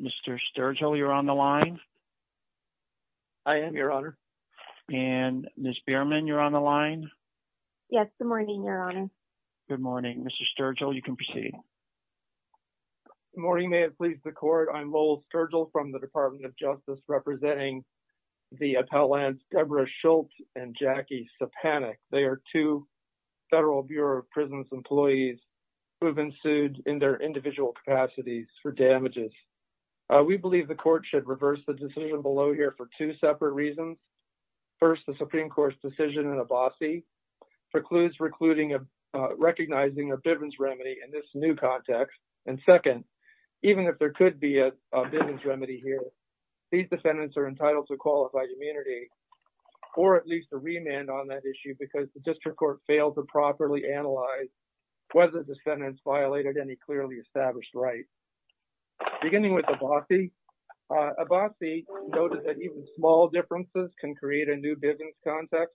Mr. Sturgill, you're on the line. I am, Your Honor. And Ms. Bierman, you're on the line. Yes, good morning, Your Honor. Good morning. Mr. Sturgill, you can proceed. Good morning. May it please the Court, I'm Lowell Sturgill from the Department of Justice, representing the appellant Deborah Schult and Jackie Sapanek. They are two Federal Bureau of Prisons employees who have been sued in their individual capacities for damages. We believe the Court should reverse the decision below here for two separate reasons. First, the Supreme Court's decision in Abbasi precludes recognizing a Bivens remedy in this new context. And second, even if there could be a Bivens remedy here, these defendants are entitled to qualified immunity or at least a remand on that issue because the District Court failed to properly analyze whether the defendants violated any clearly established right. Beginning with Abbasi, Abbasi noted that even small differences can create a new Bivens context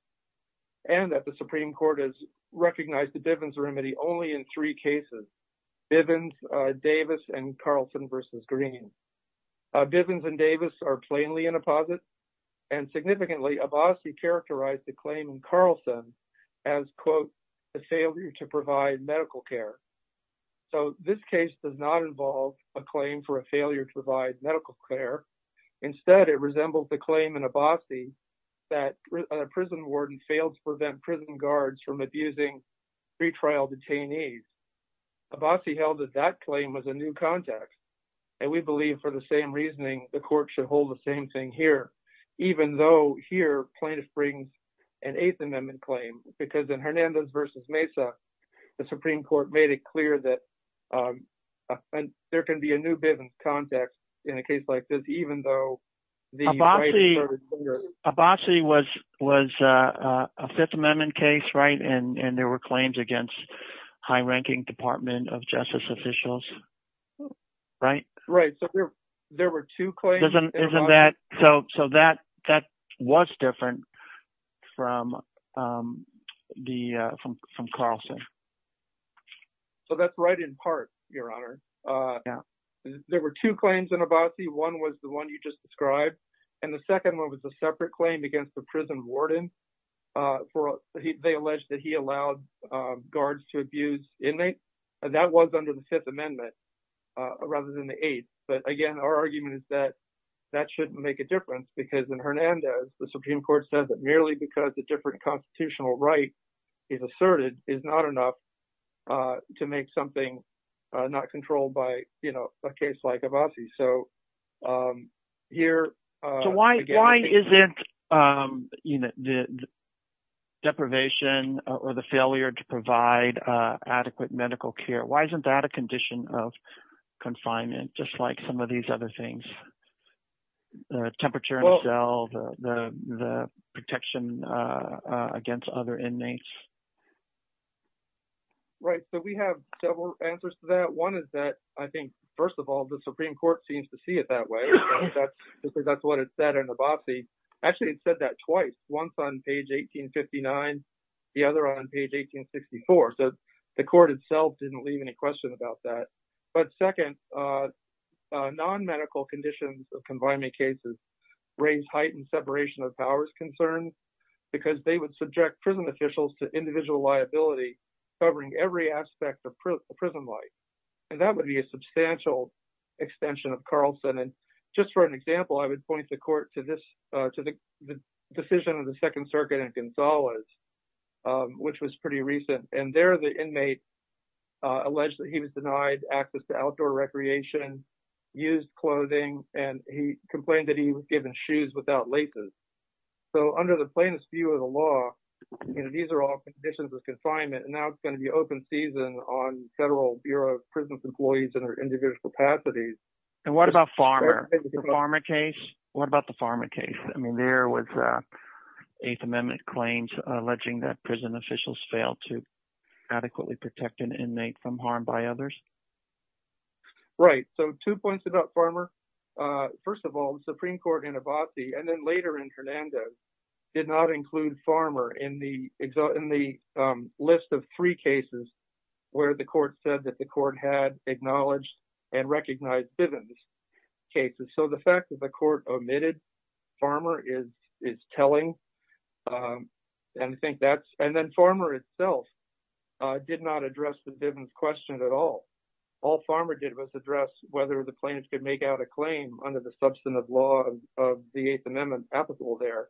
and that the Supreme Court has recognized the Bivens remedy only in three cases, Bivens, Davis, and Carlson v. Green. Bivens and Davis are plainly in a posit and significantly, Abbasi characterized the claim in Carlson as, quote, a failure to provide medical care. So this case does not involve a claim for a failure to provide medical care. Instead, it resembles the claim in Abbasi that a prison warden failed to prevent prison guards from abusing pretrial detainees. Abbasi held that that claim was a new context. And we believe for the same reasoning, the Court should hold the same thing here, even though here plaintiffs bring an Eighth Amendment claim because in Hernandez v. Mesa, the Supreme Court made it clear that and there can be a new Bivens context in a case like this, even though. Abbasi was a Fifth Amendment case, right? And there were claims against high-ranking Department of Justice officials, right? Right. So there were two claims. So that was different from Carlson. So that's right in part, Your Honor. There were two claims in Abbasi. One was the one you just described. And the second one was a separate claim against the prison warden. They alleged that he allowed guards to abuse inmates. And that was under the Fifth Amendment rather than the Eighth. But again, our argument is that that shouldn't make a difference because in Hernandez, the Supreme Court says that merely because a different constitutional right is asserted is not enough to make something not controlled by, you know, a case like Abbasi. So here... So why isn't the deprivation or the failure to provide adequate medical care, why isn't that a condition of confinement, just like some of these other things, the temperature in the cell, the protection against other inmates? Right. So we have several answers to that. One is that, I think, first of all, the Supreme Court seems to see it that way. That's what it said in Abbasi. Actually, it said that twice, once on page 1859, the other on page 1864. So the court itself didn't leave any question about that. But second, non-medical conditions of confinement cases raised heightened separation of powers concerns because they would subject prison officials to individual liability covering every aspect of prison life. And that would be a substantial extension of Carlson. And just for an example, I would point the court to this, to the decision of the Second Circuit in Gonzales, which was pretty recent. And there the inmate alleged that he was denied access to outdoor recreation, used clothing, and he complained that he was given shoes without laces. So under the plainest view of the law, these are all conditions of confinement. And now it's going to be open season on federal Bureau of Prisons employees and their individual capacities. And what about Farmer? The Farmer case? What about the Farmer case? I mean, there was Eighth Amendment claims alleging that prison officials failed to adequately protect an inmate from harm by others. Right. So two points about Farmer. First of all, the Supreme Court in Abbasi, and then later in Hernandez, did not include Farmer in the list of three cases where the court said that the court had acknowledged and recognized Bivens cases. So the fact that the court omitted Farmer is telling. And I think that's, and then Farmer itself did not address the Bivens question at all. All Farmer did was address whether the claim under the substantive law of the Eighth Amendment applicable there.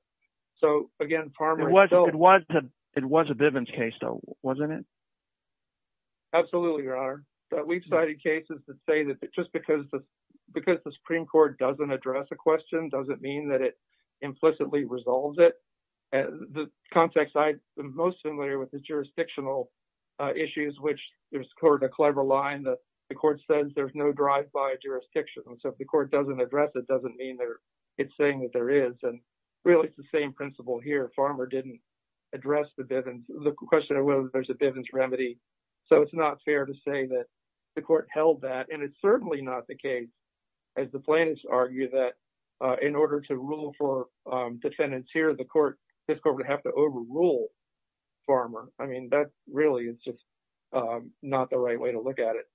So again, Farmer. It was a Bivens case though, wasn't it? Absolutely, Your Honor. We've cited cases to say that just because the Supreme Court doesn't address a question doesn't mean that it implicitly resolves it. The context I'm most familiar with is jurisdictional issues, which there's a clever line that the court says there's no drive by a jurisdiction. So if the court doesn't address it, it doesn't mean that it's saying that there is. And really, it's the same principle here. Farmer didn't address the question of whether there's a Bivens remedy. So it's not fair to say that the court held that. And it's certainly not the case, as the plaintiffs argue, that in order to rule for defendants here, the court, this court would have to overrule Farmer. I mean, that really is just not the right way to look at it.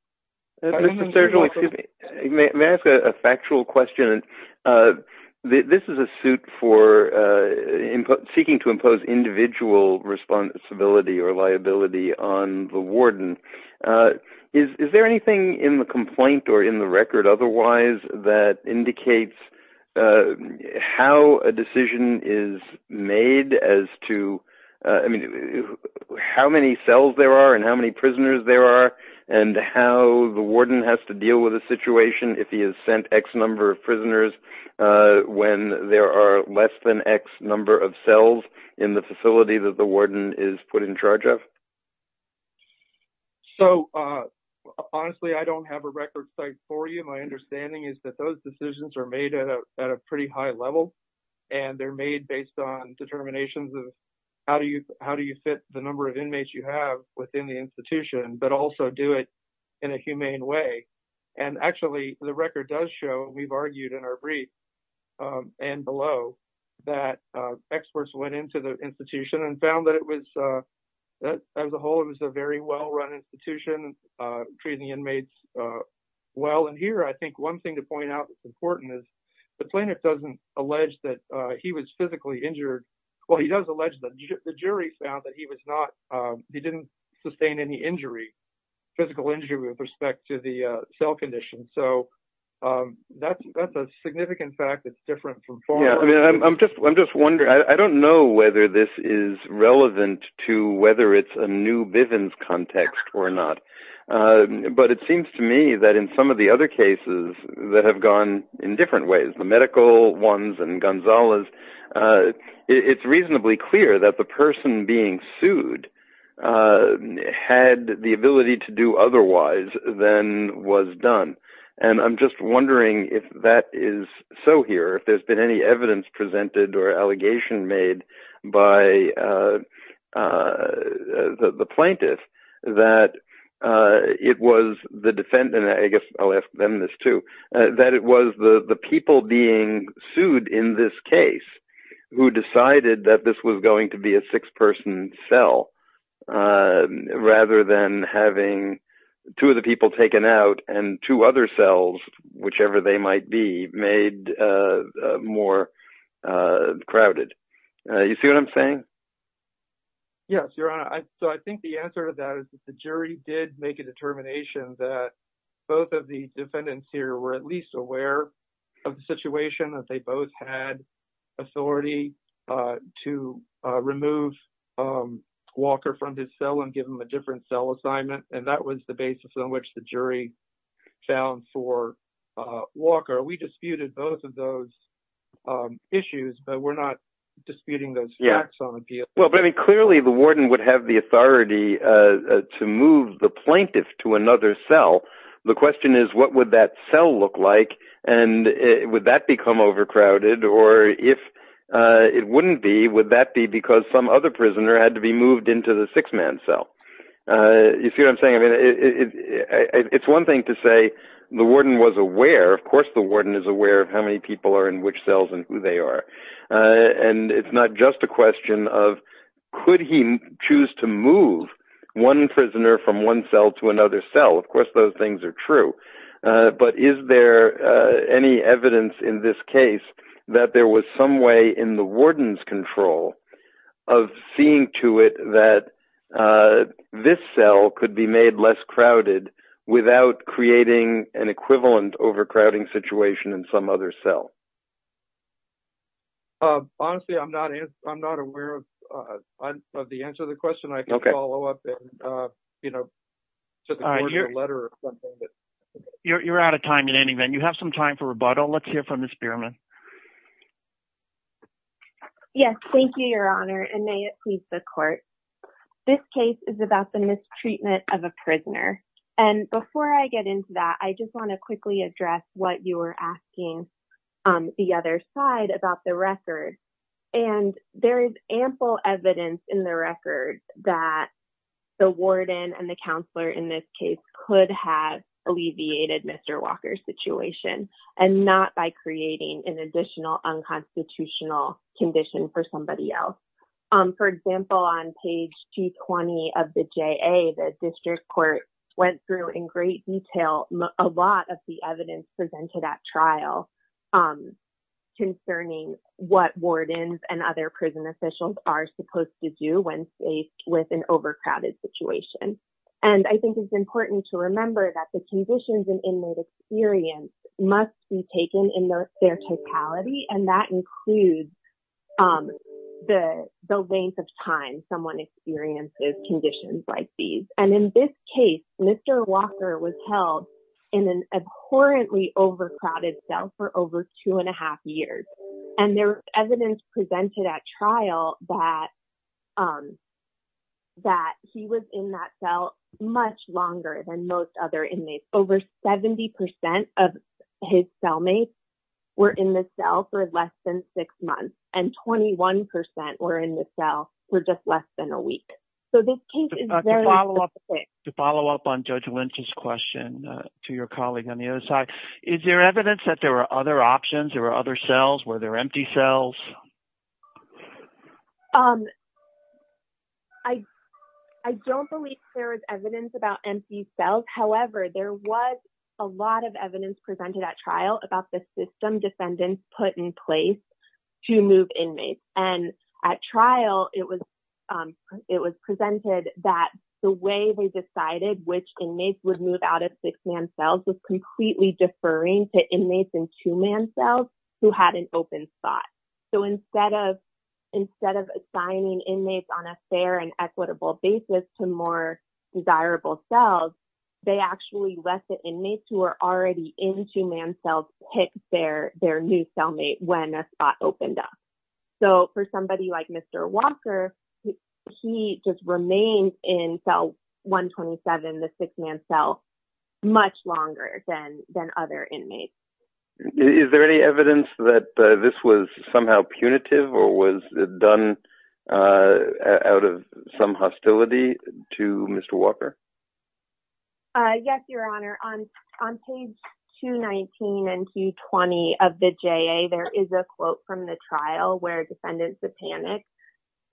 May I ask a factual question? This is a suit for seeking to impose individual responsibility or liability on the warden. Is there anything in the complaint or in the record otherwise that indicates how a decision is made as to, I mean, how many cells there are and how many the warden has to deal with the situation if he has sent X number of prisoners when there are less than X number of cells in the facility that the warden is put in charge of? So, honestly, I don't have a record for you. My understanding is that those decisions are made at a pretty high level. And they're made based on determinations of how do you how do you fit the number of inmates you have within the institution, but also do it in a humane way. And actually, the record does show, we've argued in our brief and below, that experts went into the institution and found that it was, as a whole, it was a very well run institution, treating inmates well. And here, I think one thing to point out that's important is the plaintiff doesn't allege that he was physically injured. Well, he does allege that the jury found that he was not, he didn't sustain any injury, physical injury with respect to the cell condition. So, that's a significant fact that's different from... Yeah, I mean, I'm just wondering, I don't know whether this is relevant to whether it's a new Bivens context or not. But it seems to me that in some of the other cases that have gone in the past, that the person being sued had the ability to do otherwise than was done. And I'm just wondering if that is so here, if there's been any evidence presented or allegation made by the plaintiff, that it was the defendant, I guess I'll ask them this too, that it was the six-person cell rather than having two of the people taken out and two other cells, whichever they might be, made more crowded. You see what I'm saying? Yes, Your Honor. So, I think the answer to that is that the jury did make a determination that both of the defendants here were at least aware of the situation, that they both had authority to remove Walker from his cell and give him a different cell assignment. And that was the basis on which the jury found for Walker. We disputed both of those issues, but we're not disputing those facts on appeal. Yeah. Well, but I mean, clearly, the warden would have the authority to move the plaintiff to another cell. The question is, would that cell look like and would that become overcrowded? Or if it wouldn't be, would that be because some other prisoner had to be moved into the six-man cell? You see what I'm saying? I mean, it's one thing to say the warden was aware. Of course, the warden is aware of how many people are in which cells and who they are. And it's not just a question of, could he choose to move one prisoner from one cell to another cell? Of course, those things are true. But is there any evidence in this case that there was some way in the warden's control of seeing to it that this cell could be made less crowded without creating an equivalent overcrowding situation in some other cell? Honestly, I'm not aware of the answer to that. You're out of time in any event. You have some time for rebuttal. Let's hear from Ms. Beerman. Yes. Thank you, Your Honor. And may it please the court. This case is about the mistreatment of a prisoner. And before I get into that, I just want to quickly address what you were asking the other side about the record. And there is ample evidence in the record that the warden and the counselor in this case could have alleviated Mr. Walker's situation and not by creating an additional unconstitutional condition for somebody else. For example, on page 220 of the trial concerning what wardens and other prison officials are supposed to do when faced with an overcrowded situation. And I think it's important to remember that the conditions and inmate experience must be taken in their totality. And that includes the length of time someone experiences conditions like these. And in this case, Mr. Walker was held in an abhorrently crowded cell for over two and a half years. And there was evidence presented at trial that he was in that cell much longer than most other inmates. Over 70% of his cellmates were in the cell for less than six months. And 21% were in the cell for just less than a week. So this case is very specific. To follow up on Judge Lynch's question to your colleague on the other side, is there evidence that there were other options, there were other cells, were there empty cells? I don't believe there is evidence about empty cells. However, there was a lot of evidence presented at trial about the system defendants put in place to move inmates. And at trial, it was presented that the way they decided which inmates would move out of six man cells was deferring to inmates in two man cells who had an open spot. So instead of assigning inmates on a fair and equitable basis to more desirable cells, they actually let the inmates who were already in two man cells pick their new cellmate when a spot opened up. So for somebody like Mr. Walker, he just remained in cell 127, the six man cell, much longer than other inmates. Is there any evidence that this was somehow punitive or was it done out of some hostility to Mr. Walker? Yes, Your Honor. On page 219 and 220 of the JA, there is a quote from the trial where defendants of panic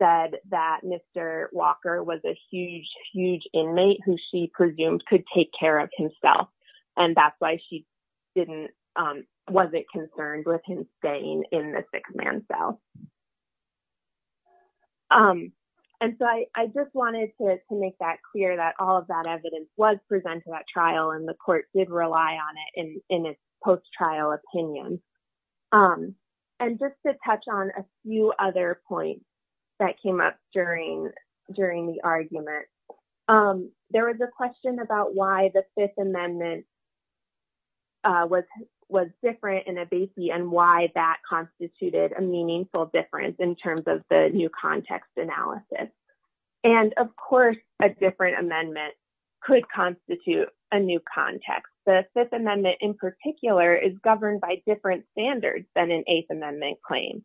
said that Mr. Walker was a huge, huge inmate who she presumed could take care of himself. And that's why she wasn't concerned with him staying in the six man cell. And so I just wanted to make that clear that all of that evidence was presented at trial and the court did rely on it in its post-trial opinion. And just to touch on a few other points that came up during the argument, there was a question about why the Fifth Amendment was different in a BACI and why that constituted a meaningful difference in terms of the new context analysis. And of course, a different amendment could constitute a new context. The Fifth Amendment in particular is governed by different standards than an Eighth Amendment claim.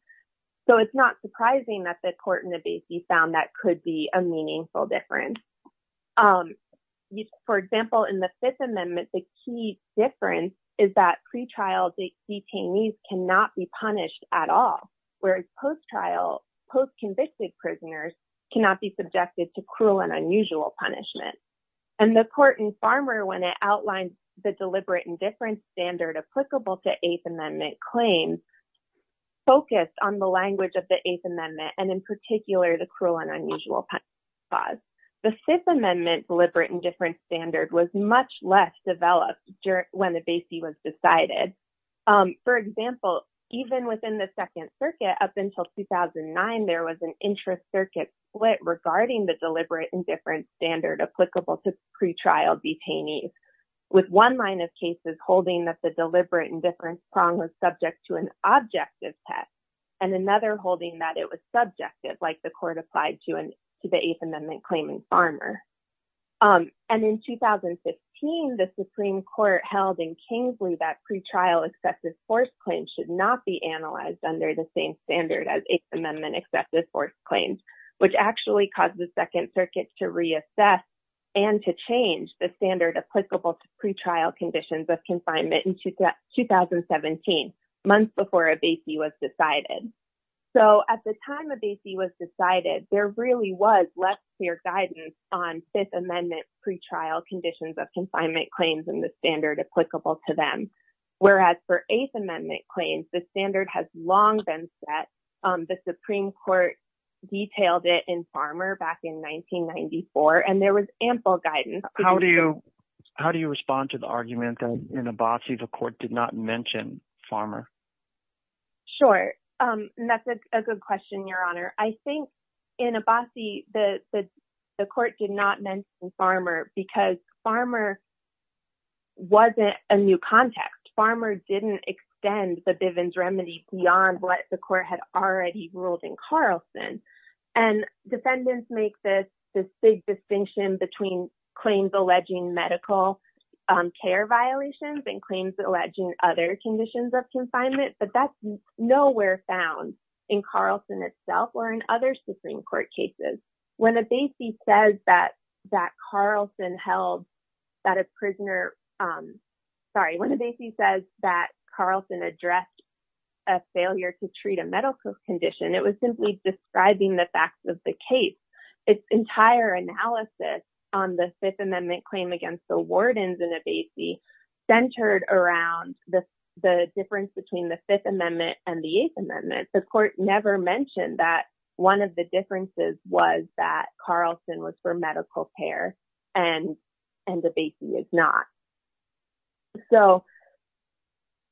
So it's not surprising that the court in the BACI found that could be a meaningful difference. For example, in the Fifth Amendment, the key difference is that pretrial detainees cannot be punished at all, whereas post-trial, post-convicted prisoners cannot be subjected to cruel and unusual punishment. And the court in Farmer, when it outlined the deliberate indifference standard applicable to Eighth Amendment claims, focused on the language of the Eighth Amendment and in particular the cruel and unusual punishment clause. The Fifth Amendment deliberate indifference standard was much less developed when the BACI was decided. For example, even within the Second Circuit, up until 2009, there was an intra-circuit split regarding the deliberate indifference standard applicable to pretrial detainees, with one line of cases holding that the deliberate indifference prong was subject to an objective test and another holding that it was subjective, like the court applied to the Eighth Amendment claim in Farmer. And in 2015, the Supreme Court held in Kingsley that pretrial excessive force claims should not be analyzed under the same standard as Eighth Amendment excessive force claims, which actually caused the Second Circuit to reassess and to change the standard applicable to pretrial conditions of confinement in 2017, months before a BACI was decided. So at the time a BACI was decided, there really was less clear guidance on Fifth Amendment pretrial conditions of confinement claims and the standard applicable to them. Whereas for Eighth Amendment claims, the standard has long been set. The Supreme Court detailed it in Farmer back in 1994, and there was ample guidance. How do you respond to the argument that in a BACI, the court did not mention Farmer? Sure. That's a good question, Your Honor. I think in a BACI, the court did not mention Farmer because Farmer wasn't a new context. Farmer didn't extend the Bivens remedy beyond what the court had already ruled in Carlson. Defendants make this big distinction between claims alleging medical care violations and claims alleging other conditions of confinement, but that's nowhere found in Carlson itself or in other Supreme Court cases. When a BACI says that Carlson addressed a failure to treat a medical condition, it was simply describing the facts of the case. Its entire analysis on the Fifth Amendment claim against the wardens in a BACI centered around the difference between the Fifth Amendment and the Eighth Amendment. The court never mentioned that one of the differences was that Carlson was for medical care and the BACI is not.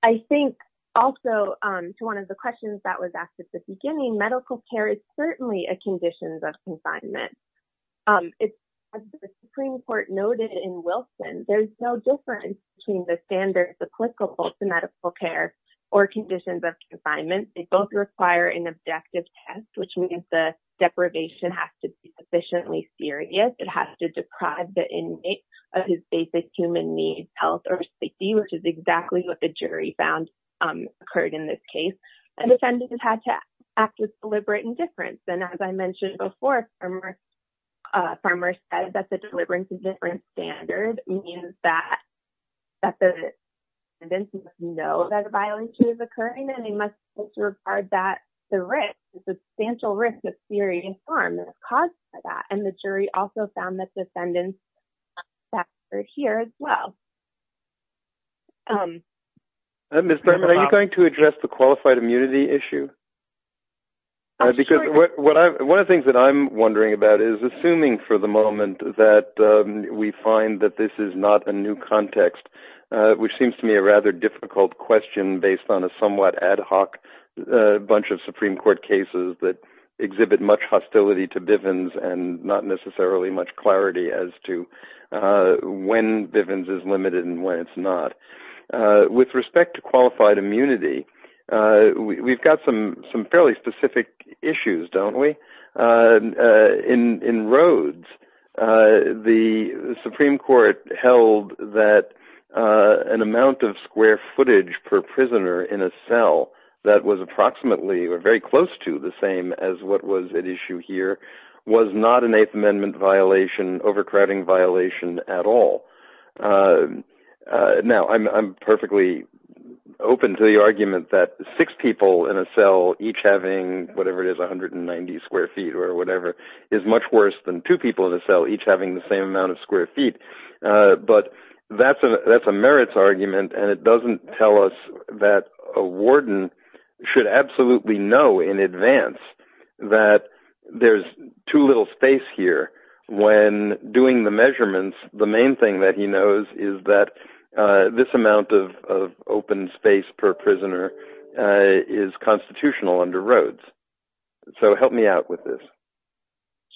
I think also to one of the questions that was asked at the beginning, medical care is certainly a condition of confinement. As the Supreme Court noted in Wilson, there's no difference between the standards applicable to medical care or conditions of confinement. They both require an objective test, which means the deprivation has to be sufficiently serious. It has to deprive the inmate of his basic human needs, health, or safety, which is exactly what the jury found occurred in this case. Defendants had to act with deliberate indifference. As I mentioned before, Farmer said that the deliberate indifference standard means that the defendants know that it's occurring and they must disregard the risk, the substantial risk of serious harm that was caused by that. The jury also found that defendants were here as well. Ms. Thurman, are you going to address the qualified immunity issue? One of the things that I'm wondering about is, assuming for the moment that we find that this is not a new context, which seems to me a rather difficult question based on a somewhat ad hoc bunch of Supreme Court cases that exhibit much hostility to Bivens and not necessarily much clarity as to when Bivens is limited and when it's not. With respect to qualified immunity, we've got some fairly specific issues, don't we? In Rhodes, the Supreme Court held that an amount of square footage per prisoner in a cell that was approximately, or very close to, the same as what was at issue here was not an Eighth Amendment violation, overcrowding violation at all. Now, I'm perfectly open to the argument that six people in a cell each having, whatever it is, 190 square feet or whatever, is much worse than two people in a cell each having the same amount of square feet. But that's a merits argument and it doesn't tell us that a warden should absolutely know in advance that there's too little space here when doing the measurements The main thing that he knows is that this amount of open space per prisoner is constitutional under Rhodes. So help me out with this.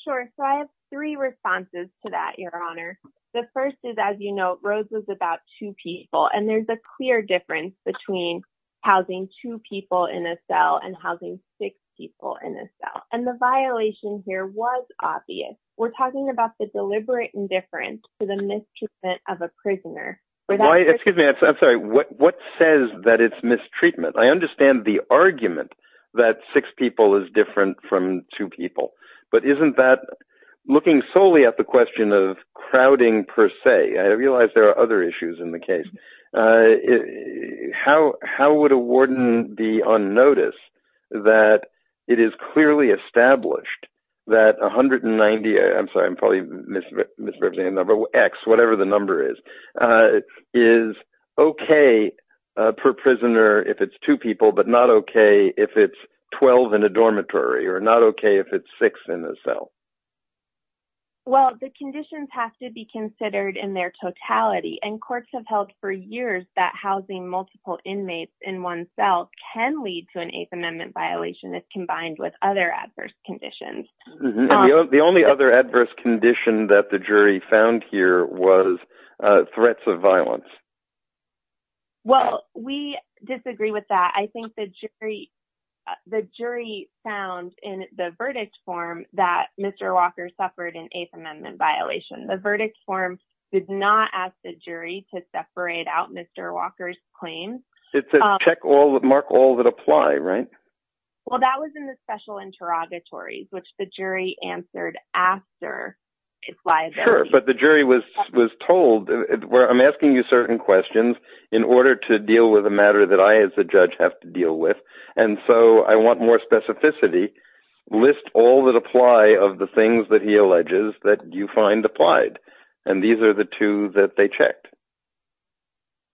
Sure. So I have three responses to that, Your Honor. The first is, as you know, Rhodes was about two people and there's a clear difference between housing two people in a cell and housing six people in a cell. And the violation here was obvious. We're talking about the deliberate indifference to the mistreatment of a prisoner. Excuse me, I'm sorry. What says that it's mistreatment? I understand the argument that six people is different from two people, but isn't that looking solely at the question of crowding per se? I realize there are other issues in the case. How would a warden be on notice that it is clearly established that 190, I'm sorry, probably misrepresenting a number, X, whatever the number is, is okay per prisoner if it's two people, but not okay if it's 12 in a dormitory or not okay if it's six in a cell? Well, the conditions have to be considered in their totality and courts have held for years that housing multiple inmates in one cell can lead to an Eighth Amendment violation if combined with other adverse conditions. The only other adverse condition that the jury found here was threats of violence. Well, we disagree with that. I think the jury found in the verdict form that Mr. Walker suffered an Eighth Amendment violation. The verdict form did not ask the jury to separate Mr. Walker's claims. It said, mark all that apply, right? Well, that was in the special interrogatories, which the jury answered after his liability. Sure, but the jury was told, I'm asking you certain questions in order to deal with a matter that I as a judge have to deal with, and so I want more specificity. List all that apply of the things that he alleges that you applied, and these are the two that they checked.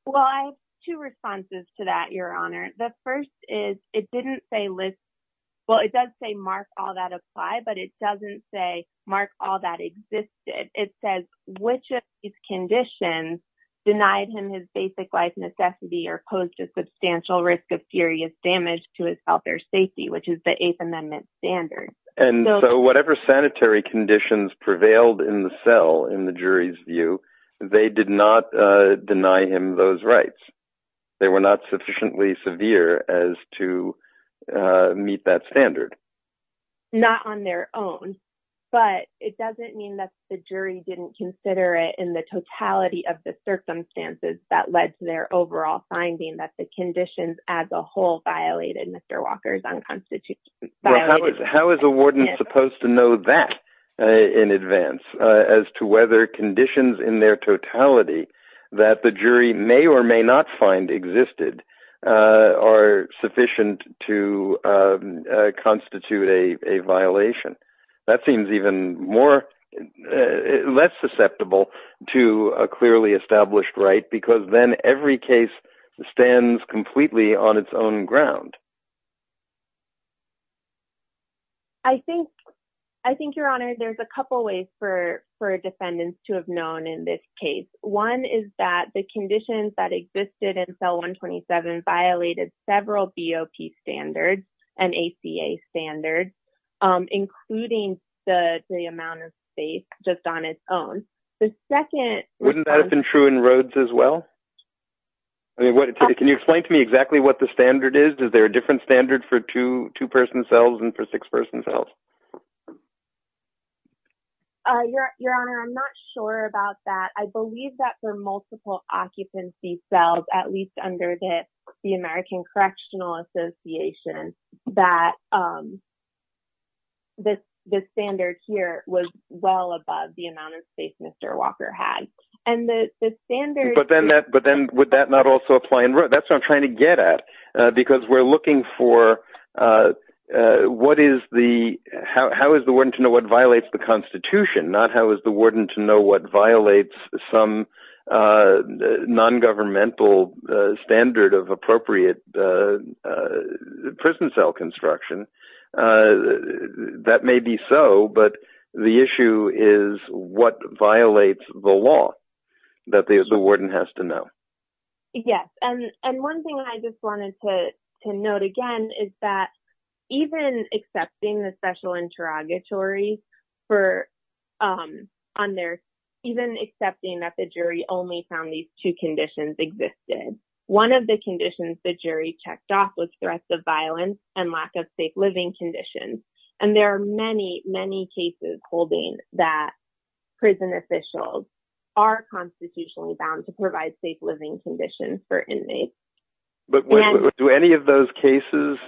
Well, I have two responses to that, Your Honor. The first is, it didn't say list, well, it does say mark all that apply, but it doesn't say mark all that existed. It says, which of these conditions denied him his basic life necessity or posed a substantial risk of serious damage to his health or safety, which is the Eighth Amendment. If the conditions prevailed in the cell, in the jury's view, they did not deny him those rights. They were not sufficiently severe as to meet that standard. Not on their own, but it doesn't mean that the jury didn't consider it in the totality of the circumstances that led to their overall finding that the conditions as a whole violated Mr. that in advance as to whether conditions in their totality that the jury may or may not find existed are sufficient to constitute a violation. That seems even less susceptible to a clearly established right because then every case stands completely on its own ground. I think, Your Honor, there's a couple of ways for defendants to have known in this case. One is that the conditions that existed in cell 127 violated several BOP standards and ACA standards, including the amount of space just on its own. The second- Wouldn't that have been true in Rhodes as well? I mean, can you explain to me exactly what the standard is? Is there a different standard for two-person cells and for six-person cells? Your Honor, I'm not sure about that. I believe that for multiple occupancy cells, at least under the American Correctional Association, that the standard here was well above the amount of space Mr. Walker had. And the standard- But then would that not also apply in Rhodes? That's what I'm trying to get at because we're looking for how is the warden to know what violates the Constitution, not how is the warden to know what violates some non-governmental standard of appropriate prison cell construction. That may be so, but the issue is what violates the law that the warden has to know. Yes. And one thing I just wanted to note again is that even accepting the special interrogatory for- even accepting that the jury only found these two conditions existed, one of the conditions the jury checked off was threats of violence and lack of safe living conditions. And there are many, many cases holding that prison officials are constitutionally bound to provide safe living conditions for inmates. But do any of those cases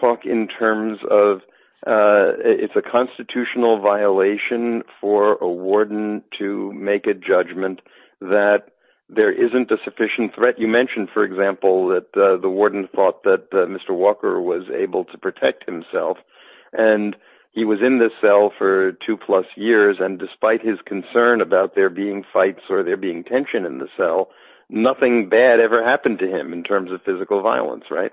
talk in terms of it's a constitutional violation for a warden to make a judgment that there isn't a sufficient threat? You mentioned, for example, that the warden thought that Mr. Walker was able to protect himself and he was in this cell for two plus years. And despite his concern about there being fights or there being tension in the cell, nothing bad ever happened to him in terms of physical violence, right?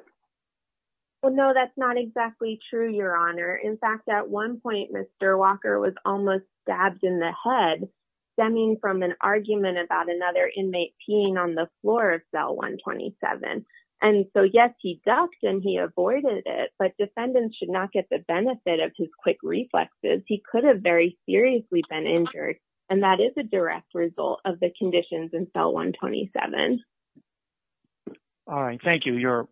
Well, no, that's not exactly true, Your Honor. In fact, at one point, Mr. Walker was almost stabbed in the head stemming from an inmate peeing on the floor of cell 127. And so, yes, he ducked and he avoided it, but defendants should not get the benefit of his quick reflexes. He could have very seriously been injured. And that is a direct result of the conditions in cell 127. All right. Thank you. You're-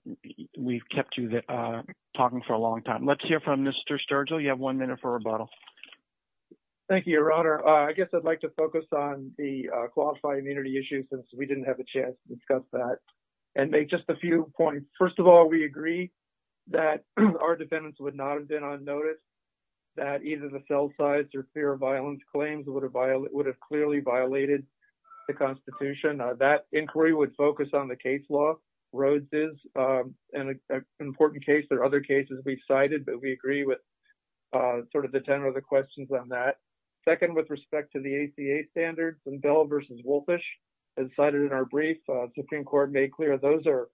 we've kept you talking for a long time. Let's hear from Mr. Sturgill. You have one minute for rebuttal. Thank you, Your Honor. I guess I'd like to since we didn't have a chance to discuss that and make just a few points. First of all, we agree that our defendants would not have been on notice that either the cell size or fear of violence claims would have violated- would have clearly violated the Constitution. That inquiry would focus on the case law. Rhodes is an important case. There are other cases we've cited, but we agree with sort of the tenor of the questions on that. Second, with respect to the ACA standards and Bell v. Wolfish, as cited in our brief, Supreme Court made clear those are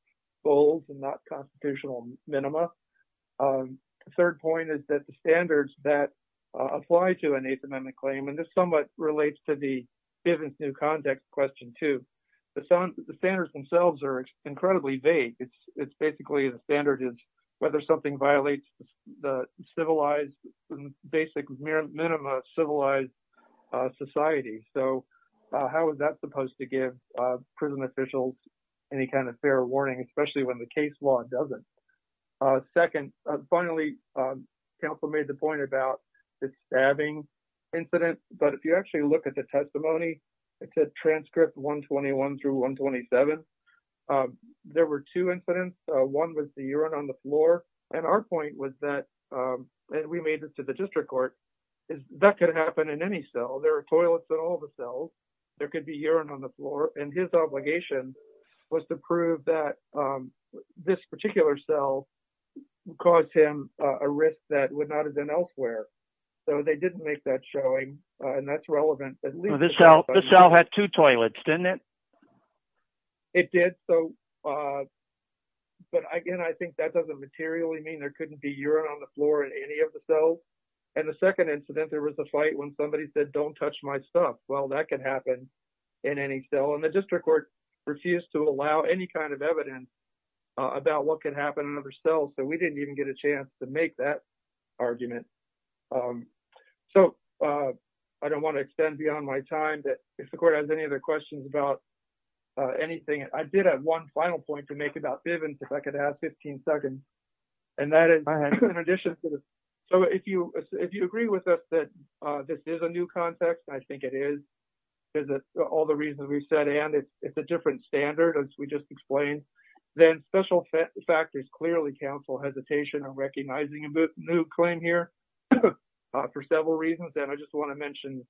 bold and not constitutional minima. The third point is that the standards that apply to an Eighth Amendment claim- and this somewhat relates to the defendants' new conduct question, too- the standards themselves are incredibly vague. It's basically the standard is whether something violates the civilized- how is that supposed to give prison officials any kind of fair warning, especially when the case law doesn't? Second, finally, counsel made the point about the stabbing incident, but if you actually look at the testimony, it said transcript 121 through 127. There were two incidents. One was the urine on the floor, and our point was that- and we made it to the district court- that could happen in any cell. There are toilets in all the cells. There could be urine on the floor, and his obligation was to prove that this particular cell caused him a risk that would not have been elsewhere, so they didn't make that showing, and that's relevant. This cell had two toilets, didn't it? It did, but again, I think that doesn't materially mean there couldn't be urine on the floor in any of the cells, and the second incident, there was a fight when somebody said, don't touch my stuff. Well, that could happen in any cell, and the district court refused to allow any kind of evidence about what could happen in other cells, so we didn't even get a chance to make that argument. So, I don't want to extend beyond my time, but if the court has any other questions about anything, I did have one final point to make about Bivens if I could have 15 seconds, and that is in addition to the- so, if you agree with us that this is a new context, I think it is, because of all the reasons we've said, and it's a different standard, as we just explained, then special factors clearly counsel hesitation on recognizing a new claim here for several reasons, and I just want to mention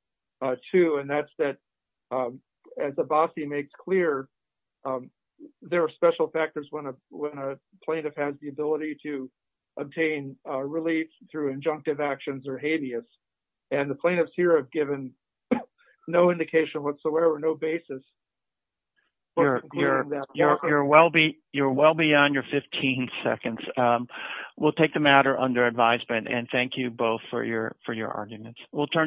two, and that's that as Abbasi makes clear, there are special factors when a plaintiff has the ability to obtain relief through injunctive actions or habeas, and the plaintiffs here have given no indication whatsoever, no basis. You're well beyond your 15 seconds. We'll take the matter under advisement, and thank you both for your arguments. We'll turn to-